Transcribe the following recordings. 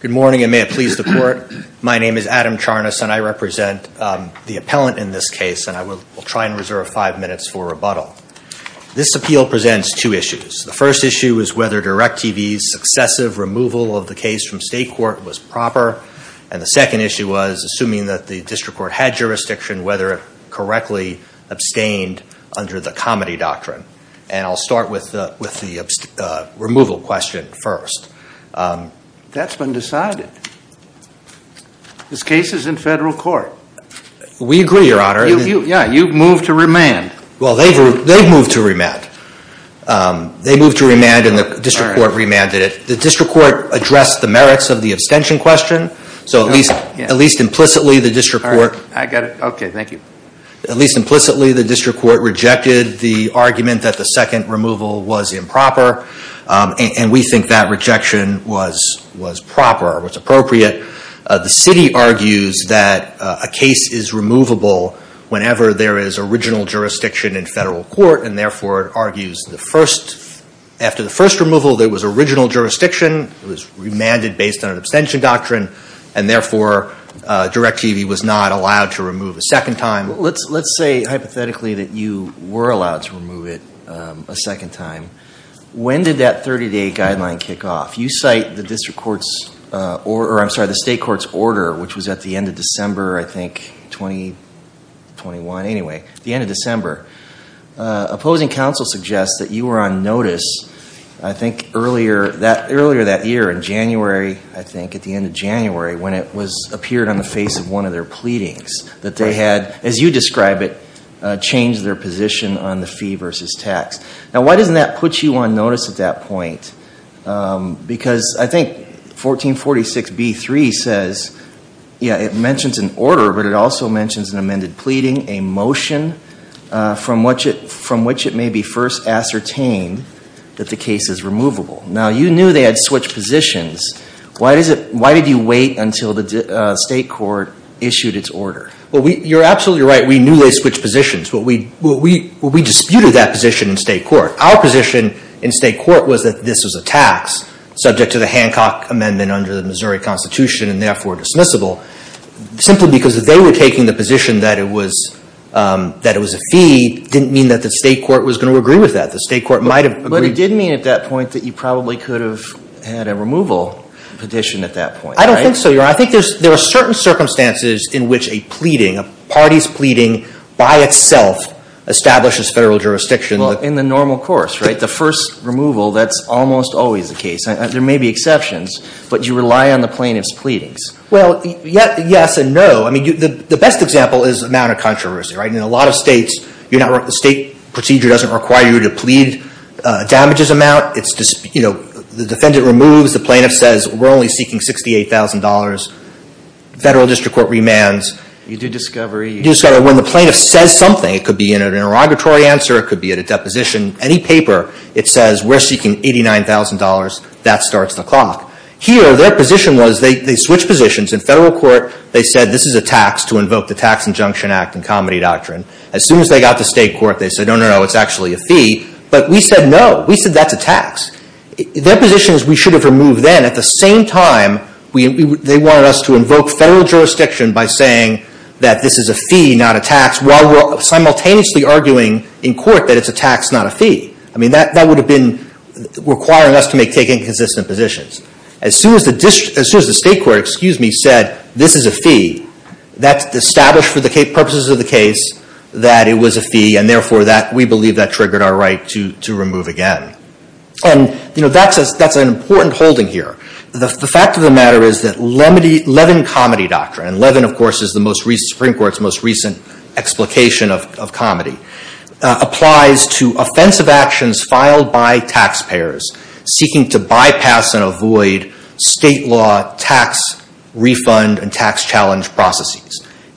Good morning, and may it please the Court. My name is Adam Charnas, and I represent the appellant in this case, and I will try and reserve five minutes for rebuttal. This appeal presents two issues. The first issue is whether DirecTV's successive removal of the case from state court was proper, and the second issue was, assuming that the district court had jurisdiction, whether it correctly abstained under the comedy doctrine. And I'll start with the removal question first. That's been decided. This case is in federal court. We agree, Your Honor. Yeah, you've moved to remand. Well, they've moved to remand. They moved to remand, and the district court remanded it. The district court addressed the merits of the abstention question, so at least implicitly the district court I got it. Okay, thank you. At least implicitly, the district court rejected the argument that the second removal was improper, and we think that rejection was proper, or was appropriate. The city argues that a case is removable whenever there is original jurisdiction in federal court, and therefore argues after the first removal there was original jurisdiction, it was remanded based on an abstention doctrine, and therefore, Direct TV was not allowed to remove a second time. Let's say hypothetically that you were allowed to remove it a second time. When did that 30-day guideline kick off? You cite the district court's, or I'm sorry, the state court's order, which was at the end of December, I think, 2021, anyway, the end of December. Opposing counsel suggests that you were on notice, I think, earlier that year in January, I think, at the end of January, when it appeared on the face of one of their pleadings, that they had, as you describe it, changed their position on the fee versus tax. Now, why doesn't that put you on notice at that point? Because I think 1446B3 says, yeah, it mentions an order, but it also mentions an amended pleading, a motion, from which it may be first ascertained that the case is removable. Now, you knew they had switched positions. Why did you wait until the state court issued its order? Well, you're absolutely right. We knew they switched positions, but we disputed that position in state court. Our position in state court was that this was a tax subject to the Hancock Amendment under the Missouri Constitution and therefore dismissible. Simply because they were taking the position that it was a fee didn't mean that the state court was going to agree with that. The state court might have agreed. But it did mean at that point that you probably could have had a removal petition at that point, right? I don't think so, Your Honor. I think there are certain circumstances in which a pleading, a party's pleading, by itself establishes federal jurisdiction. In the normal course, right? The first removal, that's almost always the case. There may be exceptions, but you rely on the plaintiff's pleadings. Well, yes and no. I mean, the best example is amount of controversy, right? In a lot of states, the state procedure doesn't require you to plead damages amount. It's, you know, the defendant removes, the plaintiff says we're only seeking $68,000. Federal district court remands. You do discovery. You do discovery. When the plaintiff says something, it could be in an interrogatory answer, it could be at a deposition, any paper, it says we're seeking $89,000. That starts the clock. Here, their position was they switched positions. In federal court, they said this is a tax to invoke the Tax Injunction Act and Comedy Doctrine. As soon as they got to a fee, but we said no. We said that's a tax. Their position is we should have removed then. At the same time, they wanted us to invoke federal jurisdiction by saying that this is a fee, not a tax, while we're simultaneously arguing in court that it's a tax, not a fee. I mean, that would have been requiring us to take inconsistent positions. As soon as the state court, excuse me, said this is a fee, that's established for the purposes of the case that it was a fee, and therefore, we believe that triggered our right to remove again. That's an important holding here. The fact of the matter is that Levin Comedy Doctrine, and Levin, of course, is the Supreme Court's most recent explication of comedy, applies to offensive actions filed by taxpayers seeking to bypass and avoid state law tax refund and compensation.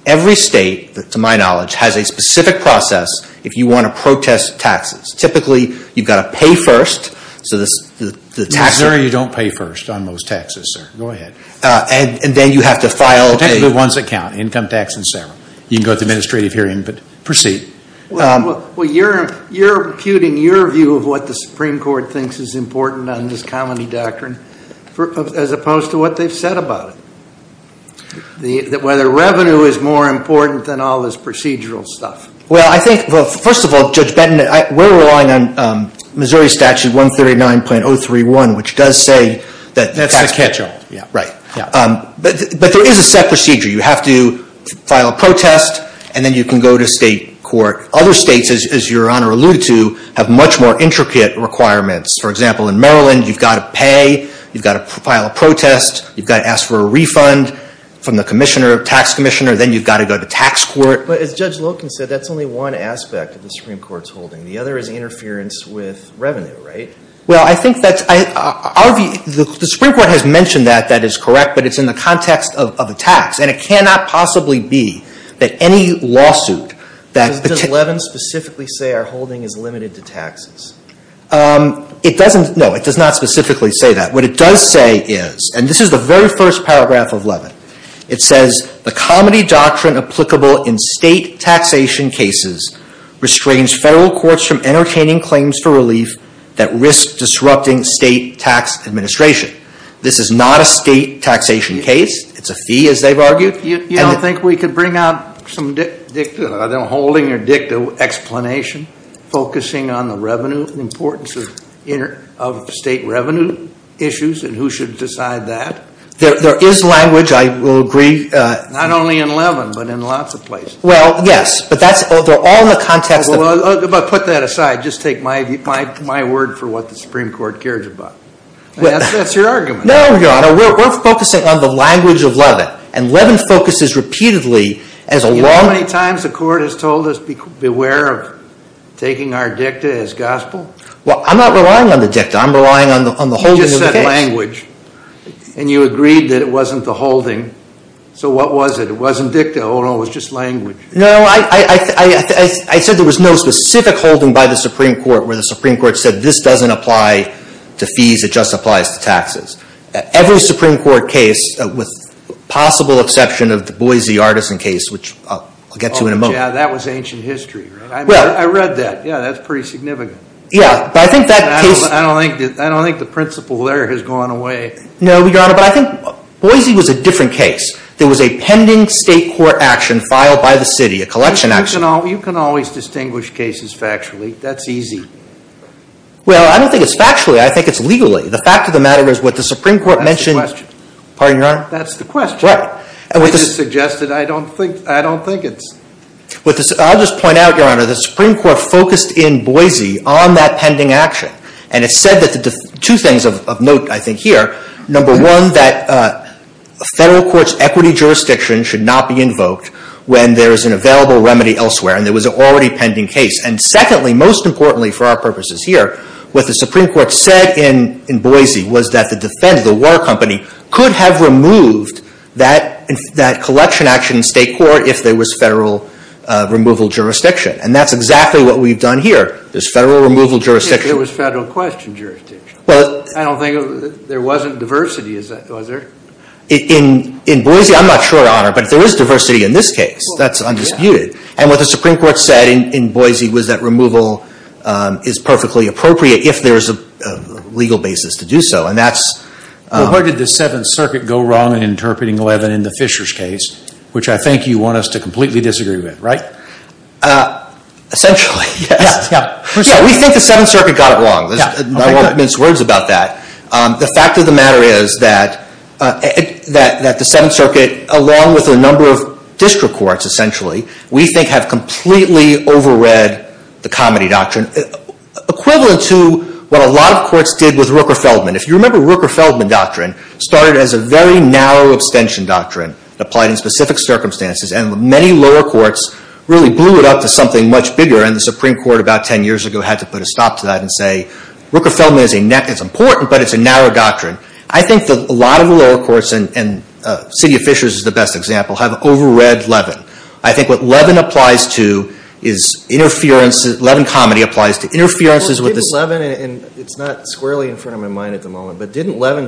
The Supreme Court, to my knowledge, has a specific process if you want to protest taxes. Typically, you've got to pay first, so the taxes... No, sir, you don't pay first on most taxes, sir. Go ahead. And then you have to file a... It's technically a once account, income tax and so on. You can go to the administrative hearing, but proceed. Well, you're imputing your view of what the Supreme Court thinks is important on this comedy doctrine, as opposed to what they've said about it. That whether revenue is more important or not, that's procedural stuff. Well, I think, first of all, Judge Benton, we're relying on Missouri Statute 139.031, which does say that... That's the catch-all. Right. But there is a set procedure. You have to file a protest, and then you can go to state court. Other states, as Your Honor alluded to, have much more intricate requirements. For example, in Maryland, you've got to pay, you've got to file a protest, you've got to ask for a refund from the tax commissioner, then you've got to go to tax court. But as Judge Loken said, that's only one aspect of the Supreme Court's holding. The other is interference with revenue, right? Well, I think that's... The Supreme Court has mentioned that that is correct, but it's in the context of a tax. And it cannot possibly be that any lawsuit that... Does Levin specifically say our holding is limited to taxes? It doesn't. No, it does not specifically say that. What it does say is, and this is the You don't think we could bring out some dicta, I don't know, holding or dicta explanation focusing on the revenue importance of state revenue issues, and who should decide that? There is language, I will agree... Not only in Levin, but in lots of places. Well, yes, but that's... They're all in the context of... But put that aside. Just take my word for what the Supreme Court cares about. That's your argument. No, Your Honor. We're focusing on the language of Levin. And Levin focuses repeatedly as a law... You know how many times the court has told us, beware of taking our dicta as gospel? Well, I'm not relying on the dicta. I'm relying on the holding of the tax. And you agreed that it wasn't the holding. So what was it? It wasn't dicta. Oh, no, it was just language. No, I said there was no specific holding by the Supreme Court where the Supreme Court said this doesn't apply to fees, it just applies to taxes. Every Supreme Court case, with possible exception of the Boise Artisan case, which I'll get to in a moment... Oh, yeah, that was ancient history, right? I mean, I read that. Yeah, that's pretty significant. Yeah, but I think that case... I don't think the principle there has gone away. No, Your Honor, but I think Boise was a different case. There was a pending state court action filed by the city, a collection action. You can always distinguish cases factually. That's easy. Well, I don't think it's factually. I think it's legally. The fact of the matter is what the Supreme Court mentioned... That's the question. Pardon, Your Honor? That's the question. Right. It is suggested. I don't think it's... I'll just point out, Your Honor, the Supreme Court focused in Boise on that pending action, and it said two things of note, I think, here. Number one, that federal courts' equity jurisdiction should not be invoked when there is an available remedy elsewhere, and there was an already pending case. And secondly, most importantly for our purposes here, what the Supreme Court said in Boise was that the war company could have removed that collection action in state court if there was federal removal jurisdiction. And that's exactly what we've done here. There's federal removal jurisdiction. If there was federal question jurisdiction. I don't think... There wasn't diversity, was there? In Boise, I'm not sure, Your Honor, but if there is diversity in this case, that's undisputed. And what the Supreme Court said in Boise was that removal is perfectly appropriate if there is a legal basis to do so, and that's... Well, where did the Seventh Circuit go wrong in interpreting 11 in the Fishers case, which I think you want us to completely disagree with, right? Essentially, yes. Yeah, yeah. Yeah, we think the Seventh Circuit got it wrong. I won't mince words about that. The fact of the matter is that the Seventh Circuit, along with a number of district courts, essentially, we think have completely overread the Comedy Doctrine, equivalent to what a lot of courts did with Rooker-Feldman. If you remember, Rooker-Feldman Doctrine started as a very narrow abstention doctrine applied in specific circumstances, and many lower courts really blew it up to something much bigger. And the Supreme Court, about 10 years ago, had to put a stop to that and say, Rooker-Feldman is important, but it's a narrow doctrine. I think that a lot of the lower courts, and the City of Fishers is the best example, have overread Levin. I think what Levin applies to is interference. Levin comedy applies to interferences with the... Well, didn't Levin, and it's not squarely in front of my mind at the moment, but didn't comedy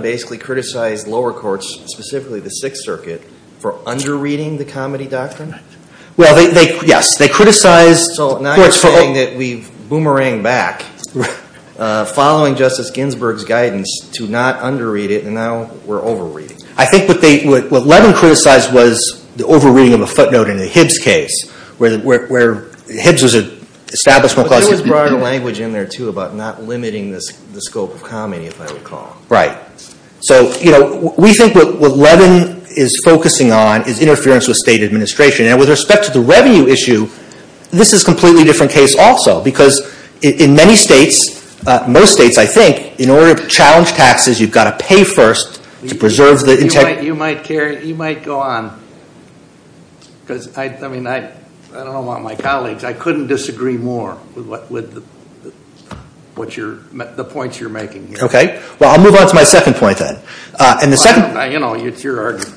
doctrine? Well, they, yes, they criticized... So now you're saying that we've boomerang back, following Justice Ginsburg's guidance to not underread it, and now we're overreading it. I think what they, what Levin criticized was the overreading of a footnote in the Hibbs case, where Hibbs was an establishment... But there was broader language in there, too, about not limiting the scope of comedy, if I recall. Right. So, you know, we think what Levin is focusing on is interference with state administration. And with respect to the revenue issue, this is a completely different case also, because in many states, most states, I think, in order to challenge taxes, you've got to pay first to preserve the integrity... You might carry, you might go on, because, I mean, I don't want my colleagues, I couldn't disagree more with the points you're making here. Okay, well, I'll move on to my second point, then. And the second... You know, it's your argument.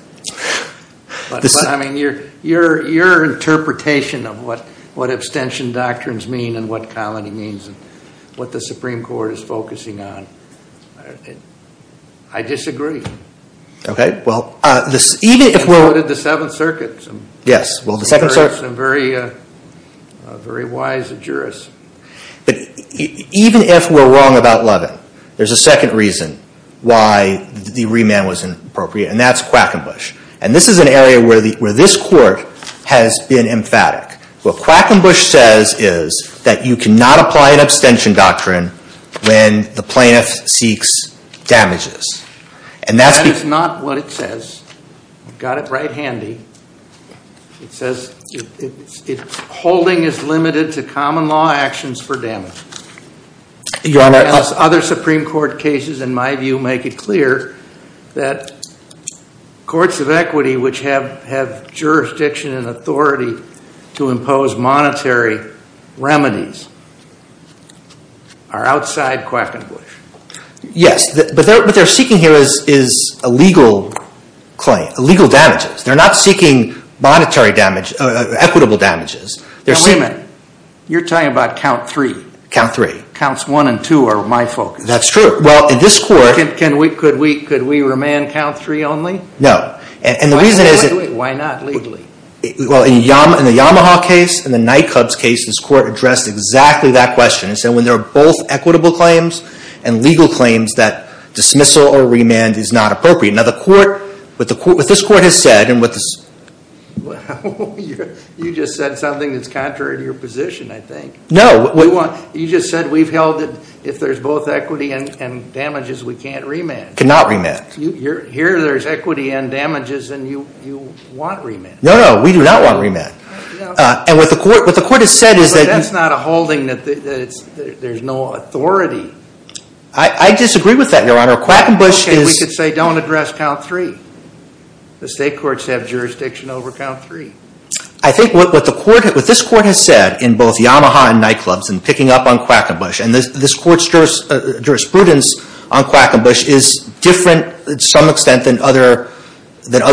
But, I mean, your interpretation of what abstention doctrines mean, and what comedy means, and what the Supreme Court is focusing on... I disagree. Okay. Well, even if we're... And so did the Seventh Circuit. Yes. Well, the Second Circuit... Some very wise jurists. But even if we're wrong about Levin, there's a second reason why the remand was inappropriate, and that's Quackenbush. And this is an area where this Court has been emphatic. What Quackenbush says is that you cannot apply an abstention doctrine when the plaintiff seeks damages. And that's... That is not what it says. You've got it right handy. It says, holding is limited to common law actions for damages. Your Honor... As other Supreme Court cases, in my view, make it clear that courts of equity which have jurisdiction and authority to impose monetary remedies are outside Quackenbush. Yes. But what they're seeking here is a legal claim, a legal damages. They're not seeking monetary damage, equitable damages. Now, wait a minute. You're talking about count three. Count three. Counts one and two are my focus. That's true. Well, in this Court... Can we... Could we remand count three only? No. And the reason is that... Why not legally? Well, in the Yamaha case, in the Nycub's case, this Court addressed exactly that question. It said when there are both equitable claims and legal claims, that dismissal or remand is not appropriate. Now, the Court... What this Court has said and what... You just said something that's contrary to your position, I think. No. You just said we've held it if there's both equity and damages, we can't remand. Cannot remand. Here there's equity and damages and you want remand. No, no. We do not want remand. And what the Court has said is that... But that's not a holding that there's no authority. I disagree with that, Your Honor. Quackenbush is... You could say don't address count three. The State Courts have jurisdiction over count three. I think what the Court... What this Court has said in both Yamaha and Nycub's and picking up on Quackenbush and this Court's jurisprudence on Quackenbush is different to some extent than other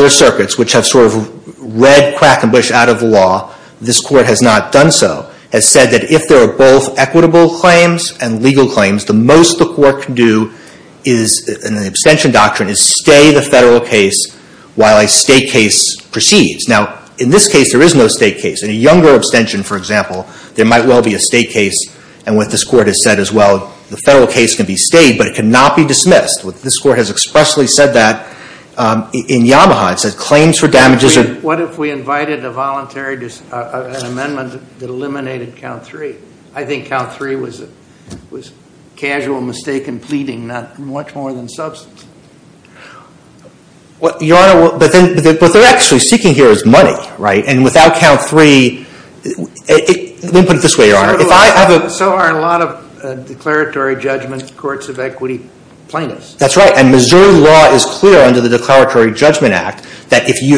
circuits which have sort of read Quackenbush out of law. This Court has not done so. It said that if there are both equitable claims and legal claims, the most the Court can do in the abstention doctrine is stay the federal case while a state case proceeds. Now, in this case there is no state case. In a younger abstention, for example, there might well be a state case. And what this Court has said as well, the federal case can be stayed but it cannot be dismissed. This Court has expressly said that in Yamaha. It says claims for damages are... What if we invited a voluntary amendment that eliminated count three? I think count three was a casual mistake in pleading, not much more than substance. Your Honor, what they're actually seeking here is money, right? And without count three... Let me put it this way, Your Honor. So are a lot of declaratory judgment courts of equity plaintiffs. That's right. And Missouri law is clear under the Declaratory Judgment Act that if you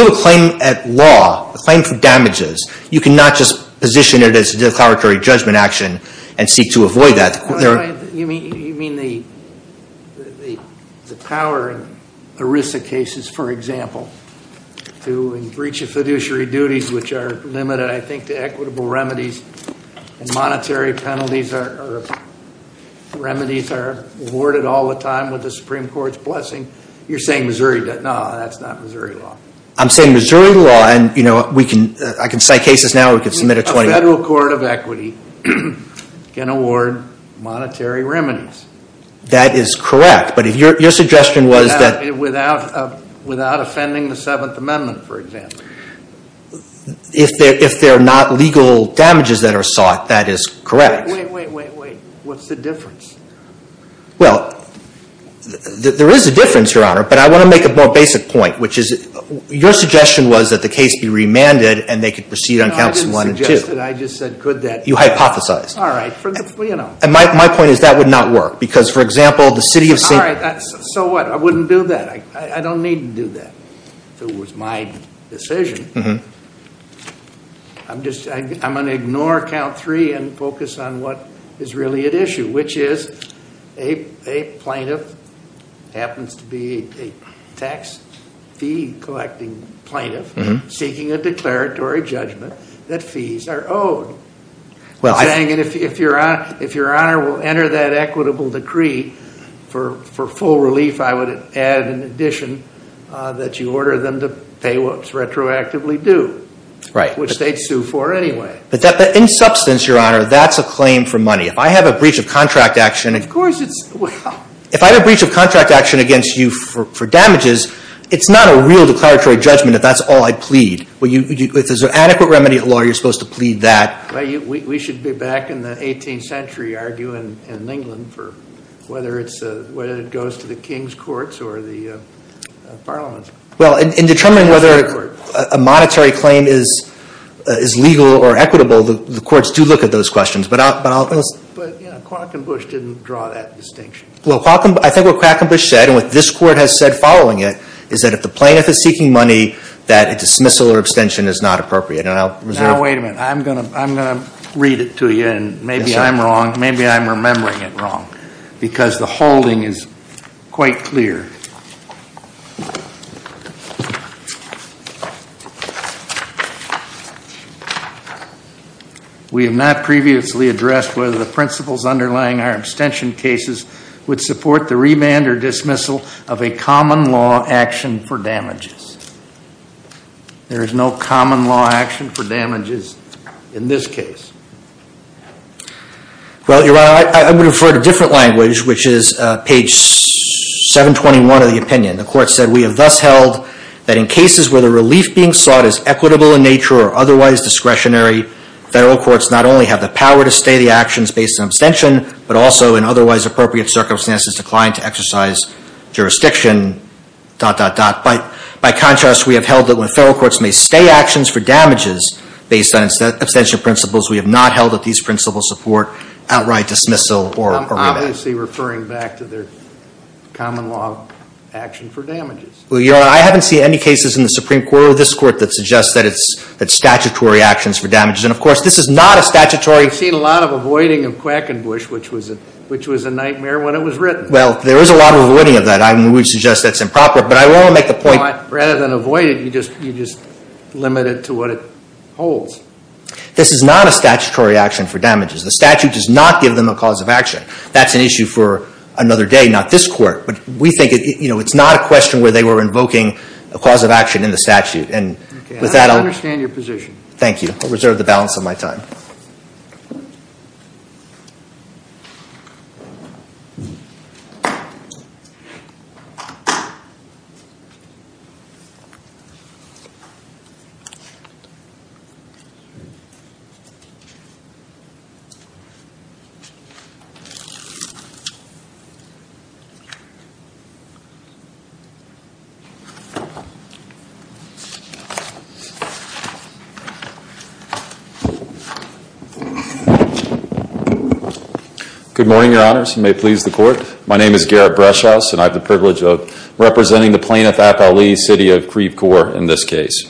have a claim at law, a claim for damages, you cannot just position it as a declaratory judgment action and seek to avoid that. You mean the power in ERISA cases, for example, to in breach of fiduciary duties which are limited, I think, to equitable remedies and monetary penalties are... Remedies are awarded all the time with the Supreme Court's blessing. You're saying Missouri does. No, that's not Missouri law. I'm saying Missouri law and, you know, I can cite cases now, we can submit a... A federal court of equity can award monetary remedies. That is correct, but your suggestion was that... Without offending the Seventh Amendment, for example. If they're not legal damages that are sought, that is correct. Wait, wait, wait, wait, what's the difference? Well, there is a difference, Your Honor, but I want to make a more basic point, which is your suggestion was that the case be remanded and they could proceed on counts one and two. No, I didn't suggest it. I just said could that... You hypothesized. All right, you know... And my point is that would not work because, for example, the city of... All right, so what? I wouldn't do that. I don't need to do that if it was my decision. I'm just... I'm going to ignore count three and focus on what is really at issue, which is a plaintiff happens to be a tax fee collecting plaintiff seeking a declaratory judgment that fees are owed. Well, I... If Your Honor will enter that equitable decree for full relief, I would add in addition that you order them to pay what's retroactively due. Right. Which they'd sue for anyway. But in substance, Your Honor, that's a claim for money. If I have a breach of contract action... Of course it's... If I have a breach of contract action against you for damages, it's not a real declaratory judgment if that's all I plead. If there's an adequate remedy at law, you're supposed to plead that. We should be back in the 18th century arguing in England for whether it's... whether it goes to the king's courts or the parliaments. Well, in determining whether a monetary claim is legal or equitable, the courts do look at those questions. But I'll... But, you know, Quackenbush didn't draw that distinction. Well, Quacken... I think what Quackenbush said and what this court has said following it is that if the plaintiff is seeking money, that dismissal or abstention is not appropriate. And I'll reserve... Now, wait a minute. I'm going to read it to you, and maybe I'm wrong. Maybe I'm remembering it wrong because the holding is quite clear. We have not previously addressed whether the principles underlying our abstention cases would support the remand or dismissal of a common law action for damages. There is no common law action for damages in this case. Well, Your Honor, I would refer to a different language, which is page 721 of the opinion. The court said, We have thus held that in cases where the relief being sought is equitable in nature or otherwise discretionary, federal courts not only have the power to stay the actions based on abstention, but also in otherwise appropriate circumstances decline to exercise jurisdiction... By contrast, we have held that when federal courts may stay actions for damages based on abstention principles, we have not held that these principles support outright dismissal or remand. I'm obviously referring back to their common law action for damages. Well, Your Honor, I haven't seen any cases in the Supreme Court or this court that suggest that it's statutory actions for damages. And, of course, this is not a statutory... I've seen a lot of avoiding of Quackenbush, which was a nightmare when it was written. Well, there is a lot of avoiding of that. And we would suggest that's improper. But I will make the point... Rather than avoid it, you just limit it to what it holds. This is not a statutory action for damages. The statute does not give them a cause of action. That's an issue for another day, not this court. But we think it's not a question where they were invoking a cause of action in the statute. And with that... I understand your position. Thank you. I'll reserve the balance of my time. Thank you. Good morning, Your Honors, and may it please the Court. My name is Garrett Brushhouse, and I have the privilege of representing the plaintiff, Appali, City of Creve Coeur, in this case.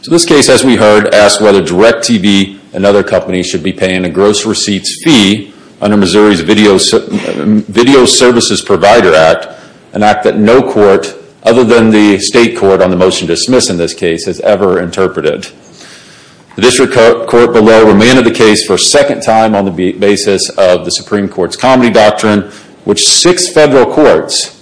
So this case, as we heard, asks whether DirecTV and other companies should be paying a gross receipts fee under Missouri's Video Services Provider Act, an act that no court, other than the state court, on the motion to dismiss in this case, has ever interpreted. The district court below remanded the case for a second time on the basis of the Supreme Court's comedy doctrine, which six federal courts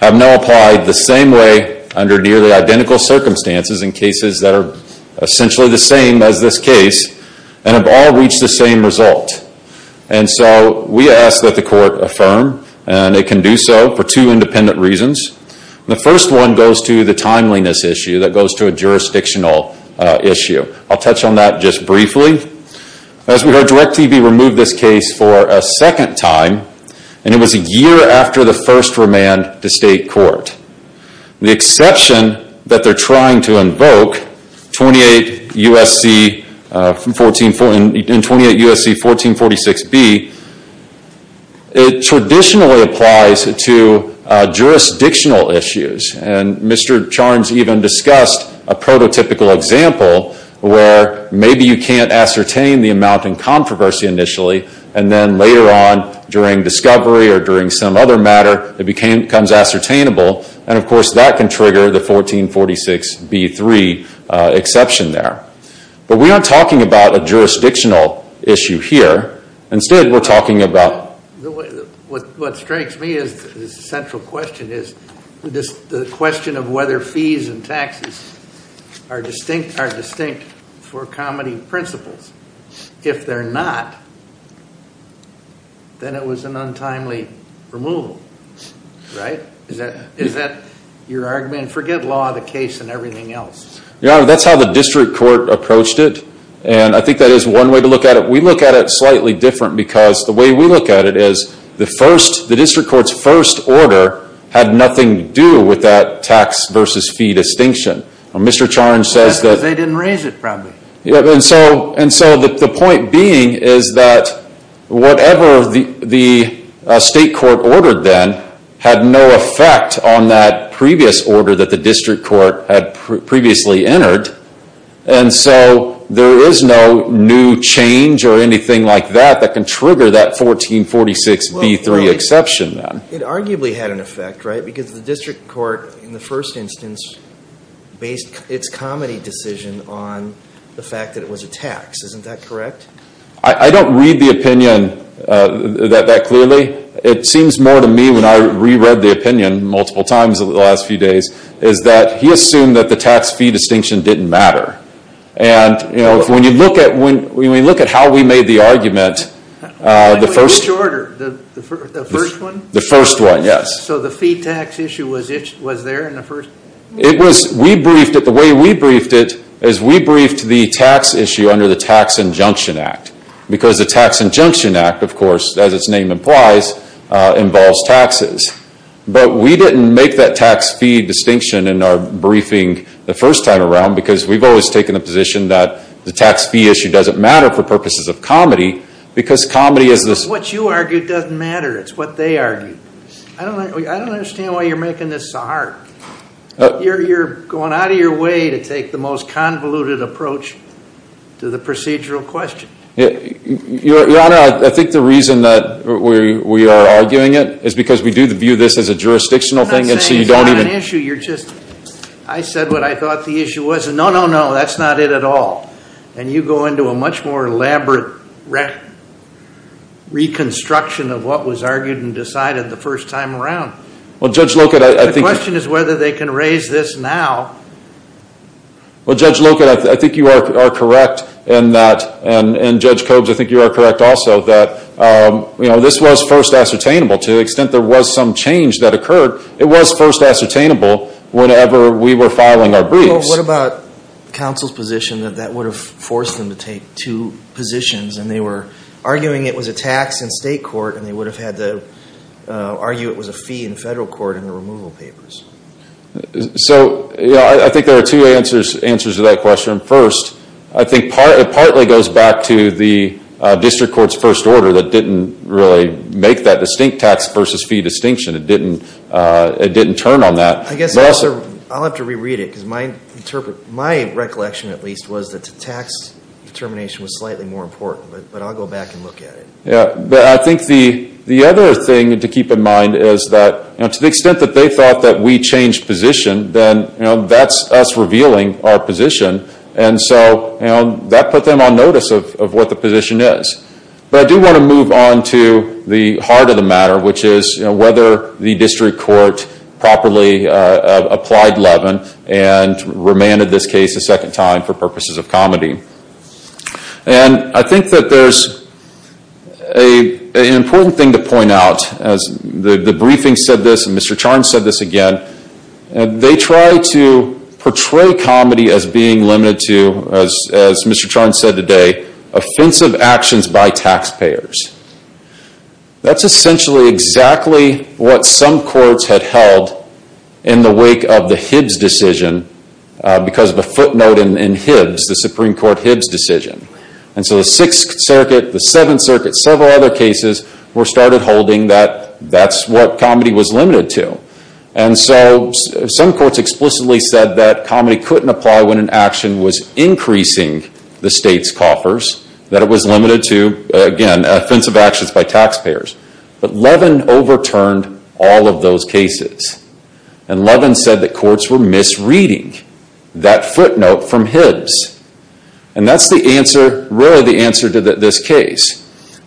have now applied the same way, under nearly identical circumstances, in cases that are essentially the same as this case, and have all reached the same result. And so, we ask that the court affirm, and it can do so for two independent reasons. The first one goes to the timeliness issue, that goes to a jurisdictional issue. I'll touch on that just briefly. As we heard, DirecTV removed this case for a second time, and it was a year after the first remand to state court. The exception that they're trying to invoke, 28 U.S.C. 1446B, it traditionally applies to jurisdictional issues, and Mr. Charns even discussed a prototypical example, where maybe you can't ascertain the amount in controversy initially, and then later on, during discovery or during some other matter, it becomes ascertainable, and of course that can trigger the 1446B3 exception there. But we aren't talking about a jurisdictional issue here. Instead, we're talking about... What strikes me as the central question is, the question of whether fees and taxes are distinct for comedy principles. If they're not, then it was an untimely removal, right? Is that your argument? Forget law, the case, and everything else. That's how the district court approached it, and I think that is one way to look at it. We look at it slightly different, because the way we look at it is, the district court's first order had nothing to do with that tax versus fee distinction. Mr. Charns says that... They didn't raise it, probably. And so the point being is that whatever the state court ordered then had no effect on that previous order that the district court had previously entered, and so there is no new change or anything like that that can trigger that 1446B3 exception then. It arguably had an effect, right? Because the district court, in the first instance, based its comedy decision on the fact that it was a tax. Isn't that correct? I don't read the opinion that clearly. It seems more to me, when I re-read the opinion multiple times over the last few days, is that he assumed that the tax-fee distinction didn't matter. When we look at how we made the argument... Which order? The first one? The first one, yes. So the fee-tax issue was there in the first... The way we briefed it is, we briefed the tax issue under the Tax Injunction Act. Because the Tax Injunction Act, of course, as its name implies, involves taxes. But we didn't make that tax-fee distinction in our briefing the first time around, because we've always taken the position that the tax-fee issue doesn't matter for purposes of comedy, because comedy is this... What you argued doesn't matter. It's what they argued. I don't understand why you're making this so hard. You're going out of your way to take the most convoluted approach to the procedural question. Your Honor, I think the reason that we are arguing it is because we do view this as a jurisdictional thing, and so you don't even... I'm not saying it's not an issue. You're just... I said what I thought the issue was, and no, no, no, that's not it at all. And you go into a much more elaborate reconstruction of what was argued and decided the first time around. Well, Judge Locut, I think... The question is whether they can raise this now. Well, Judge Locut, I think you are correct in that, and Judge Coggs, I think you are correct also, that this was first ascertainable. To the extent there was some change that occurred, it was first ascertainable whenever we were filing our briefs. Well, what about counsel's position that that would have forced them to take two positions, and they were arguing it was a tax in state court, and they would have had to argue it was a fee in federal court in the removal papers? So I think there are two answers to that question. First, I think it partly goes back to the district court's first order that didn't really make that distinct tax versus fee distinction. It didn't turn on that. I guess I'll have to reread it, because my recollection, at least, was that the tax determination was slightly more important, but I'll go back and look at it. Yeah, but I think the other thing to keep in mind is that to the extent that they thought that we changed position, then that's us revealing our position, and so that put them on notice of what the position is. But I do want to move on to the heart of the matter, which is whether the district court properly applied Levin and remanded this case a second time for purposes of comedy. And I think that there's an important thing to point out. The briefing said this, and Mr. Charnes said this again. They tried to portray comedy as being limited to, as Mr. Charnes said today, offensive actions by taxpayers. That's essentially exactly what some courts had held in the wake of the Hibbs decision, because of a footnote in Hibbs, the Supreme Court Hibbs decision. And so the Sixth Circuit, the Seventh Circuit, several other cases were started holding that that's what comedy was limited to. And so some courts explicitly said that comedy couldn't apply when an action was increasing the state's coffers, that it was limited to, again, offensive actions by taxpayers. But Levin overturned all of those cases. And Levin said that courts were misreading that footnote from Hibbs. And that's the answer, really the answer to this case.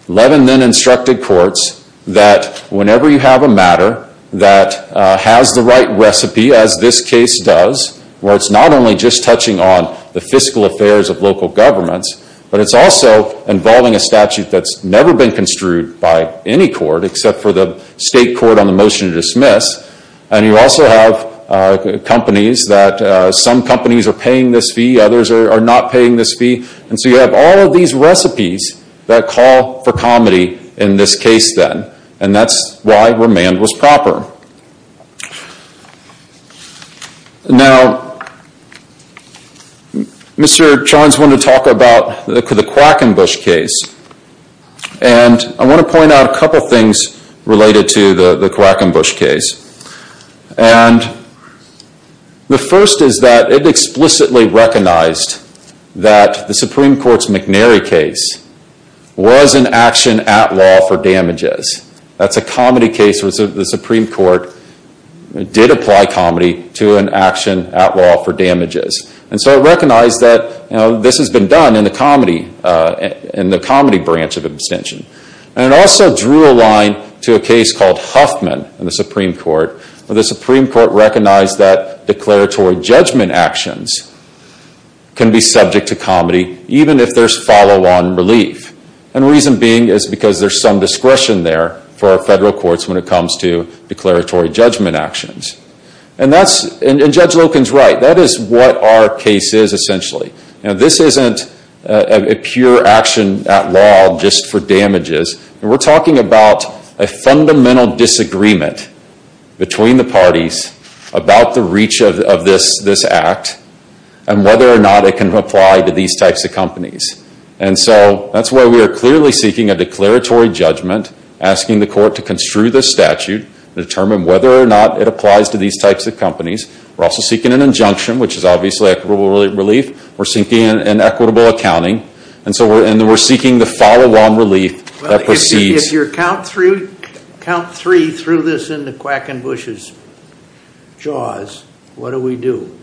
Levin then instructed courts that whenever you have a matter that has the right recipe, as this case does, where it's not only just touching on the fiscal affairs of local governments, but it's also involving a statute that's never been construed by any court except for the state court on the motion to dismiss. And you also have companies that some companies are paying this fee, others are not paying this fee. And so you have all of these recipes that call for comedy in this case then. And that's why remand was proper. Now, Mr. Johns wanted to talk about the Quackenbush case. And I want to point out a couple of things related to the Quackenbush case. And the first is that it explicitly recognized that the Supreme Court's McNary case was an action at law for damages. That's a comedy case where the Supreme Court did apply comedy to an action at law for damages. And so it recognized that this has been done in the comedy branch of abstention. And it also drew a line to a case called Huffman in the Supreme Court where the Supreme Court recognized that declaratory judgment actions can be subject to comedy even if there's follow-on relief. And the reason being is because there's some discretion there for our federal courts when it comes to declaratory judgment actions. And Judge Loken's right. That is what our case is essentially. This isn't a pure action at law just for damages. We're talking about a fundamental disagreement between the parties about the reach of this act and whether or not it can apply to these types of companies. And so that's why we are clearly seeking a declaratory judgment, asking the court to construe this statute, determine whether or not it applies to these types of companies. We're also seeking an injunction, which is obviously equitable relief. We're seeking an equitable accounting. And so we're seeking the follow-on relief that precedes. If your count three threw this in the Quackenbush's jaws, what do we do?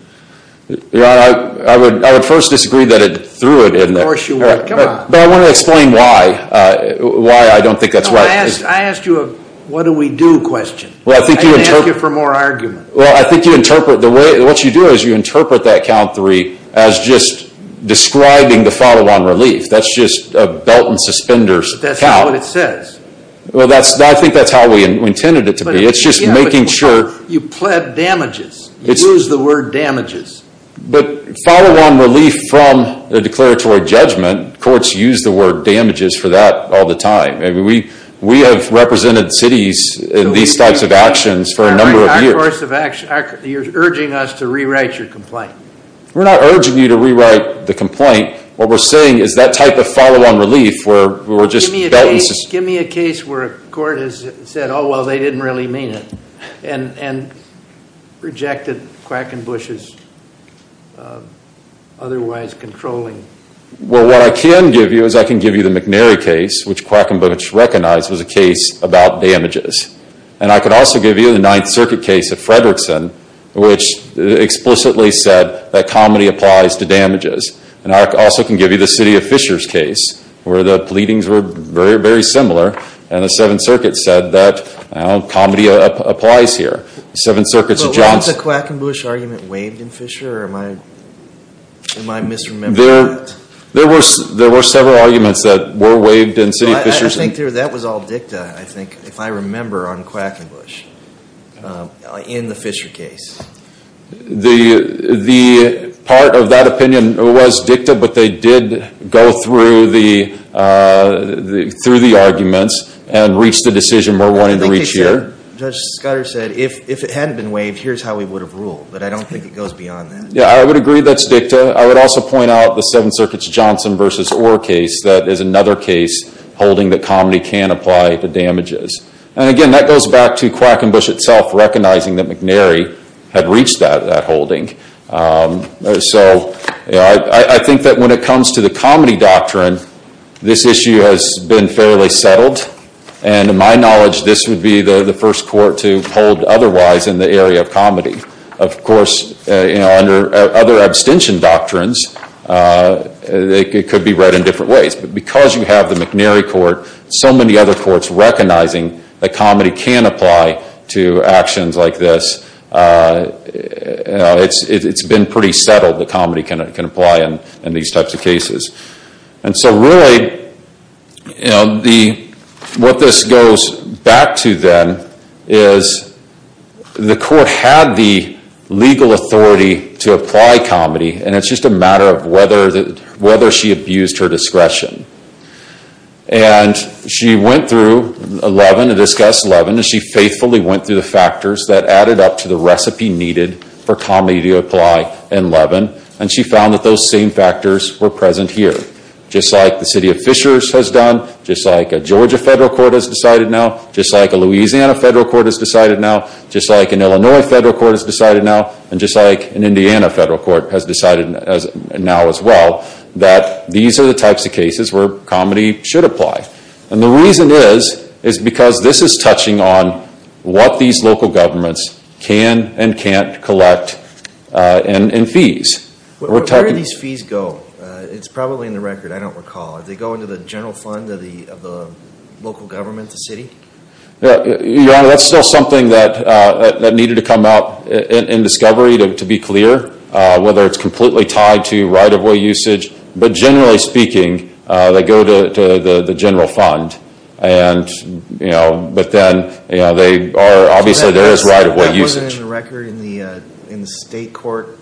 I would first disagree that it threw it in there. Of course you would. Come on. But I want to explain why I don't think that's right. I asked you a what do we do question. I didn't ask you for more argument. Well, I think you interpret the way, what you do is you interpret that count three as just describing the follow-on relief. That's just a belt and suspenders count. But that's not what it says. Well, I think that's how we intended it to be. It's just making sure. You pled damages. You use the word damages. But follow-on relief from a declaratory judgment, courts use the word damages for that all the time. We have represented cities in these types of actions for a number of years. You're urging us to rewrite your complaint. We're not urging you to rewrite the complaint. What we're saying is that type of follow-on relief where we're just. Give me a case where a court has said, oh, well, they didn't really mean it. And rejected Quackenbush's otherwise controlling. Well, what I can give you is I can give you the McNary case, which Quackenbush recognized was a case about damages. And I could also give you the Ninth Circuit case of Fredrickson, which explicitly said that comedy applies to damages. And I also can give you the City of Fishers case, where the pleadings were very, very similar. And the Seventh Circuit said that comedy applies here. But was the Quackenbush argument waived in Fisher? Or am I misremembering that? There were several arguments that were waived in City of Fishers. I think that was all dicta, I think, if I remember, on Quackenbush. In the Fisher case. The part of that opinion was dicta, but they did go through the arguments and reach the decision we're wanting to reach here. I think Judge Scudder said, if it hadn't been waived, here's how we would have ruled. But I don't think it goes beyond that. Yeah, I would agree that's dicta. I would also point out the Seventh Circuit's Johnson v. Orr case. That is another case holding that comedy can apply to damages. And again, that goes back to Quackenbush itself, recognizing that McNary had reached that holding. So, I think that when it comes to the comedy doctrine, this issue has been fairly settled. And to my knowledge, this would be the first court to hold otherwise in the area of comedy. Of course, under other abstention doctrines, it could be read in different ways. But because you have the McNary court, so many other courts recognizing that comedy can apply to actions like this, it's been pretty settled that comedy can apply in these types of cases. And so really, what this goes back to then, is the court had the legal authority to apply comedy, and it's just a matter of whether she abused her discretion. And she went through 11, discussed 11, and she faithfully went through the factors that added up to the recipe needed for comedy to apply in 11. And she found that those same factors were present here. Just like the city of Fishers has done, just like a Georgia federal court has decided now, just like a Louisiana federal court has decided now, just like an Illinois federal court has decided now, and just like an Indiana federal court has decided now as well, that these are the types of cases where comedy should apply. And the reason is, is because this is touching on what these local governments can and can't collect in fees. Where do these fees go? It's probably in the record, I don't recall. Do they go into the general fund of the local government, the city? Your Honor, that's still something that needed to come out in discovery to be clear, whether it's completely tied to right-of-way usage. But generally speaking, they go to the general fund. But then, obviously there is right-of-way usage. That wasn't in the record in the state court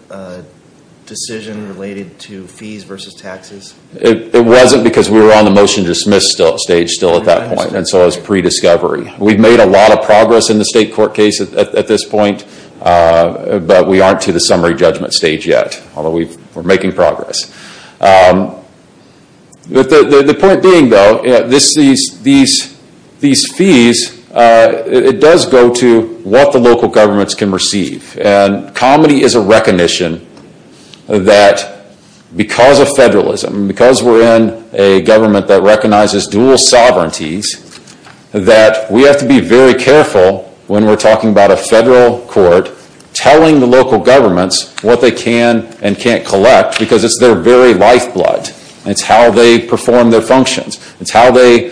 decision related to fees versus taxes? It wasn't because we were on the motion to dismiss stage still at that point, and so it was pre-discovery. We've made a lot of progress in the state court case at this point, but we aren't to the summary judgment stage yet. Although we're making progress. The point being though, these fees, it does go to what the local governments can receive. And comedy is a recognition that because of federalism, because we're in a government that recognizes dual sovereignties, that we have to be very careful when we're talking about a federal court telling the local governments what they can and can't collect, because it's their very lifeblood. It's how they perform their functions. It's how they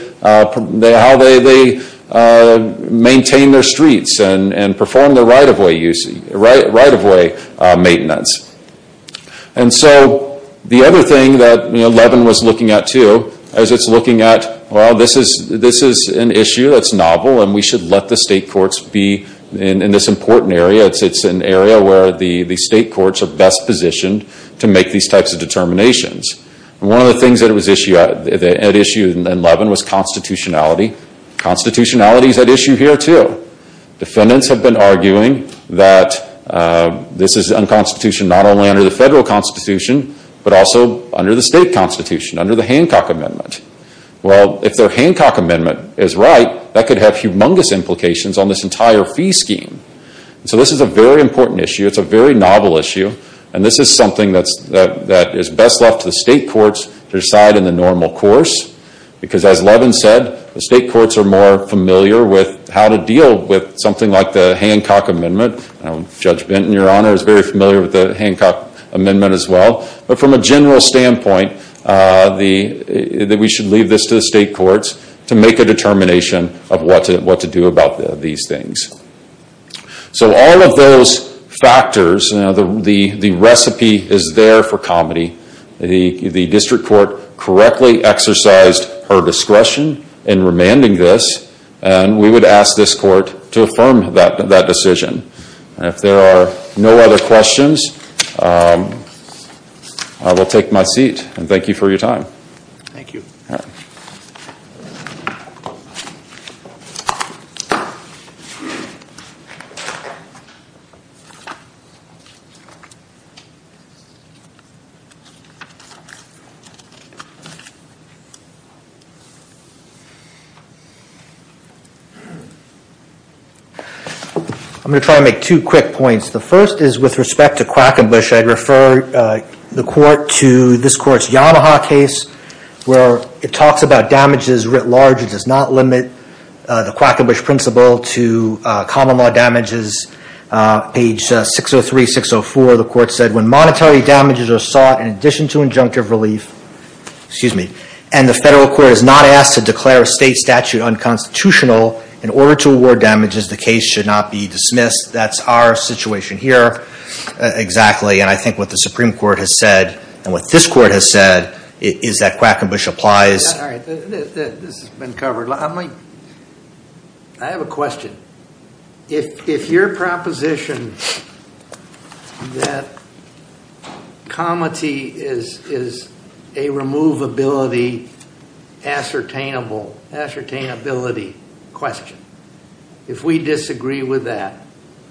maintain their streets and perform their right-of-way maintenance. And so, the other thing that Levin was looking at too, as it's looking at, well, this is an issue that's novel, and we should let the state courts be in this important area. It's an area where the state courts are best positioned to make these types of determinations. One of the things that was at issue in Levin was constitutionality. Constitutionality is at issue here too. Defendants have been arguing that this is unconstitutional not only under the federal constitution, but also under the state constitution, under the Hancock Amendment. Well, if their Hancock Amendment is right, that could have humongous implications on this entire fee scheme. So, this is a very important issue. It's a very novel issue, and this is something that is best left to the state courts to decide in the normal course, because as Levin said, the state courts are more familiar with how to deal with something like the Hancock Amendment. Judge Benton, Your Honor, is very familiar with the Hancock Amendment as well. But from a general standpoint, we should leave this to the state courts to make a determination of what to do about these things. So, all of those factors, the recipe is there for comedy. The district court correctly exercised her discretion in remanding this, and we would ask this court to affirm that decision. If there are no other questions, I will take my seat, and thank you for your time. Thank you. All right. I'm going to try to make two quick points. The first is with respect to Quackenbush, I'd refer the court to this court's Yamaha case where it talks about damages writ large. It does not limit the Quackenbush principle to common law damages. Page 603-604, the court said, When monetary damages are sought in addition to injunctive relief, and the federal court is not asked to declare a state statute unconstitutional in order to award damages, the case should not be dismissed. That's our situation here, exactly, and I think what the Supreme Court has said and what this court has said is that Quackenbush applies. All right, this has been covered. I have a question. If your proposition that comedy is a removability, ascertainability question, if we disagree with that,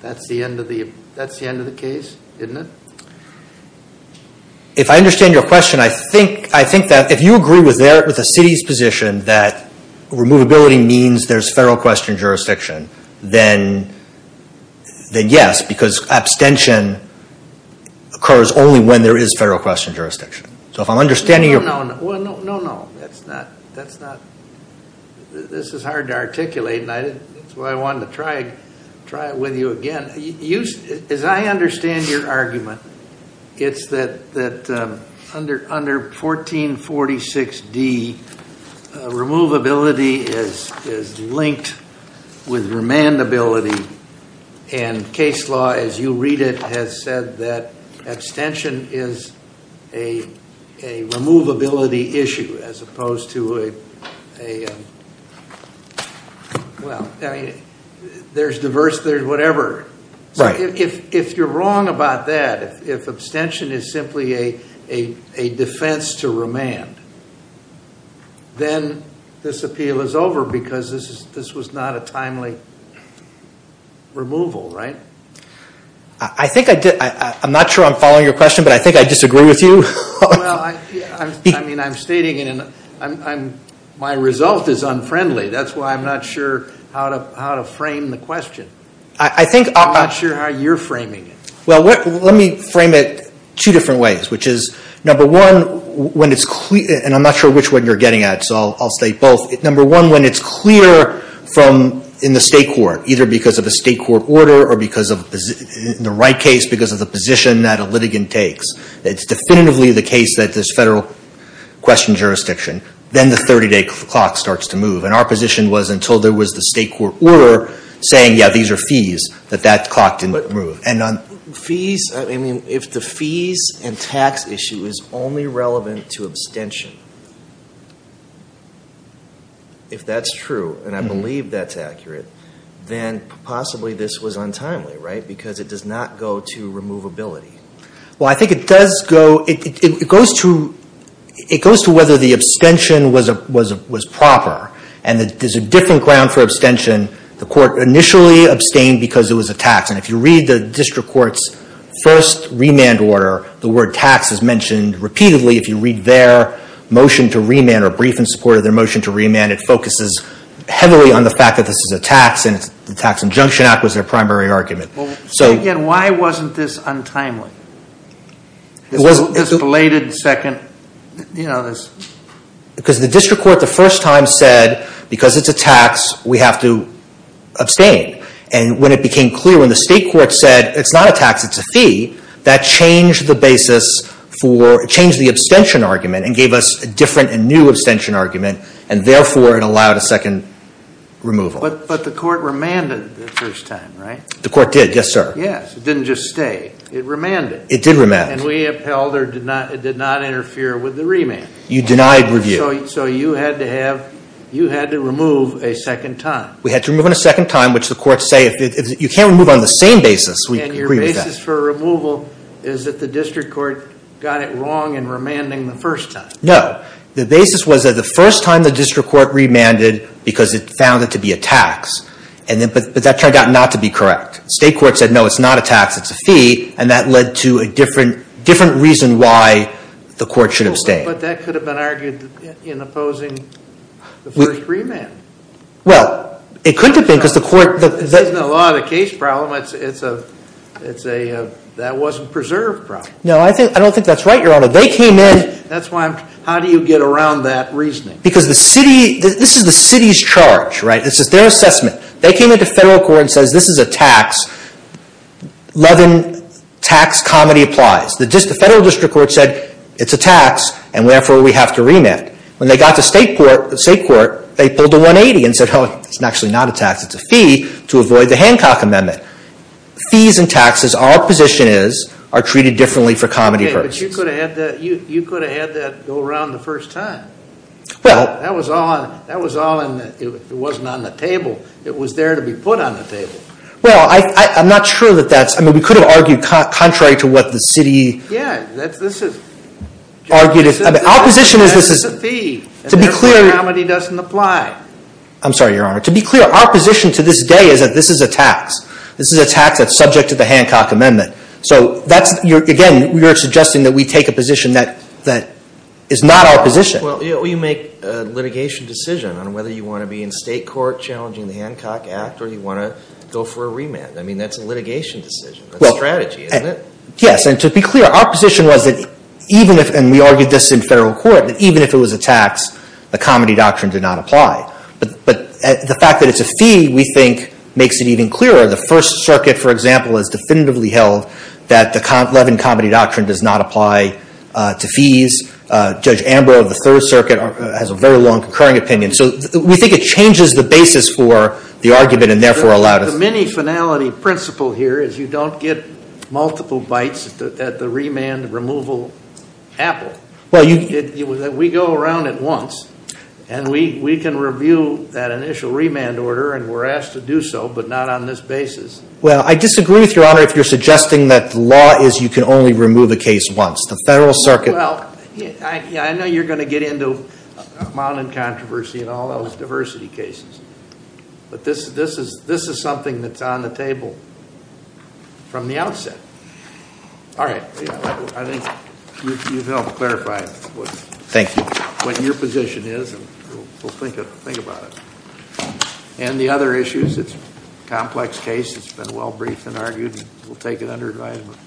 that's the end of the case, isn't it? If I understand your question, I think that if you agree with the city's position that removability means there's federal question jurisdiction, then yes, because abstention occurs only when there is federal question jurisdiction. So if I'm understanding your... No, no, no. That's not... This is hard to articulate, and that's why I wanted to try it with you again. As I understand your argument, it's that under 1446D, removability is linked with remandability, and case law, as you read it, has said that abstention is a removability issue as opposed to a... Well, there's diverse, there's whatever. If you're wrong about that, if abstention is simply a defense to remand, then this appeal is over because this was not a timely removal, right? I think I did. I'm not sure I'm following your question, but I think I disagree with you. Well, I mean, I'm stating my result is unfriendly. That's why I'm not sure how to frame the question. I'm not sure how you're framing it. Well, let me frame it two different ways, which is, number one, when it's clear, and I'm not sure which one you're getting at, so I'll state both. Number one, when it's clear in the state court, either because of a state court order or in the right case because of the position that a litigant takes, it's definitively the case that there's federal question jurisdiction, then the 30-day clock starts to move. And our position was until there was the state court order saying, yeah, these are fees, that that clock didn't move. And on fees, I mean, if the fees and tax issue is only relevant to abstention, if that's true, and I believe that's accurate, then possibly this was untimely, right? Because it does not go to removability. Well, I think it does go, it goes to whether the abstention was proper and that there's a different ground for abstention. The court initially abstained because it was a tax. And if you read the district court's first remand order, the word tax is mentioned repeatedly. If you read their motion to remand or brief in support of their motion to remand, it focuses heavily on the fact that this is a tax, and the Tax Injunction Act was their primary argument. Well, say again, why wasn't this untimely? This belated second, you know, this... Because the district court the first time said, because it's a tax, we have to abstain. And when it became clear, when the state court said, it's not a tax, it's a fee, that changed the basis for, changed the abstention argument and gave us a different and new abstention argument, and therefore it allowed a second removal. But the court remanded the first time, right? The court did, yes, sir. Yes, it didn't just stay. It remanded. It did remand. And we upheld or did not interfere with the remand. You denied review. So you had to have, you had to remove a second time. We had to remove it a second time, which the courts say, you can't remove on the same basis. And your basis for removal is that the district court got it wrong in remanding the first time. No, the basis was that the first time the district court remanded because it found it to be a tax, but that turned out not to be correct. State court said, no, it's not a tax, it's a fee, and that led to a different reason why the court should abstain. But that could have been argued in opposing the first remand. Well, it could have been because the court. This isn't a law of the case problem. It's a that wasn't preserved problem. No, I don't think that's right, Your Honor. They came in. That's why I'm, how do you get around that reasoning? Because the city, this is the city's charge, right? This is their assessment. They came into federal court and said, this is a tax. Levin tax, comedy applies. The federal district court said, it's a tax, and therefore we have to remand. When they got to state court, they pulled a 180 and said, oh, it's actually not a tax, it's a fee, to avoid the Hancock Amendment. Fees and taxes, our position is, are treated differently for comedy purposes. But you could have had that go around the first time. That was all in the, it wasn't on the table. It was there to be put on the table. Well, I'm not sure that that's, I mean, we could have argued contrary to what the city. Yeah, this is. Argued, our position is this is. That's a fee. To be clear. And therefore, comedy doesn't apply. I'm sorry, Your Honor. To be clear, our position to this day is that this is a tax. This is a tax that's subject to the Hancock Amendment. So that's, again, you're suggesting that we take a position that is not our position. Well, you make a litigation decision on whether you want to be in state court challenging the Hancock Act or you want to go for a remand. I mean, that's a litigation decision, a strategy, isn't it? Yes, and to be clear, our position was that even if, and we argued this in federal court, that even if it was a tax, the comedy doctrine did not apply. But the fact that it's a fee, we think, makes it even clearer. The First Circuit, for example, has definitively held that the Levin comedy doctrine does not apply to fees. Judge Ambrose of the Third Circuit has a very long concurring opinion. So we think it changes the basis for the argument and, therefore, allowed us to. The mini finality principle here is you don't get multiple bites at the remand removal apple. We go around it once, and we can review that initial remand order, and we're asked to do so, but not on this basis. Well, I disagree with Your Honor if you're suggesting that the law is you can only remove a case once. The Federal Circuit. Well, I know you're going to get into mounting controversy in all those diversity cases. But this is something that's on the table from the outset. All right. I think you've helped clarify what your position is, and we'll think about it. And the other issues, it's a complex case. It's been well briefed and argued, and we'll take it under advisement.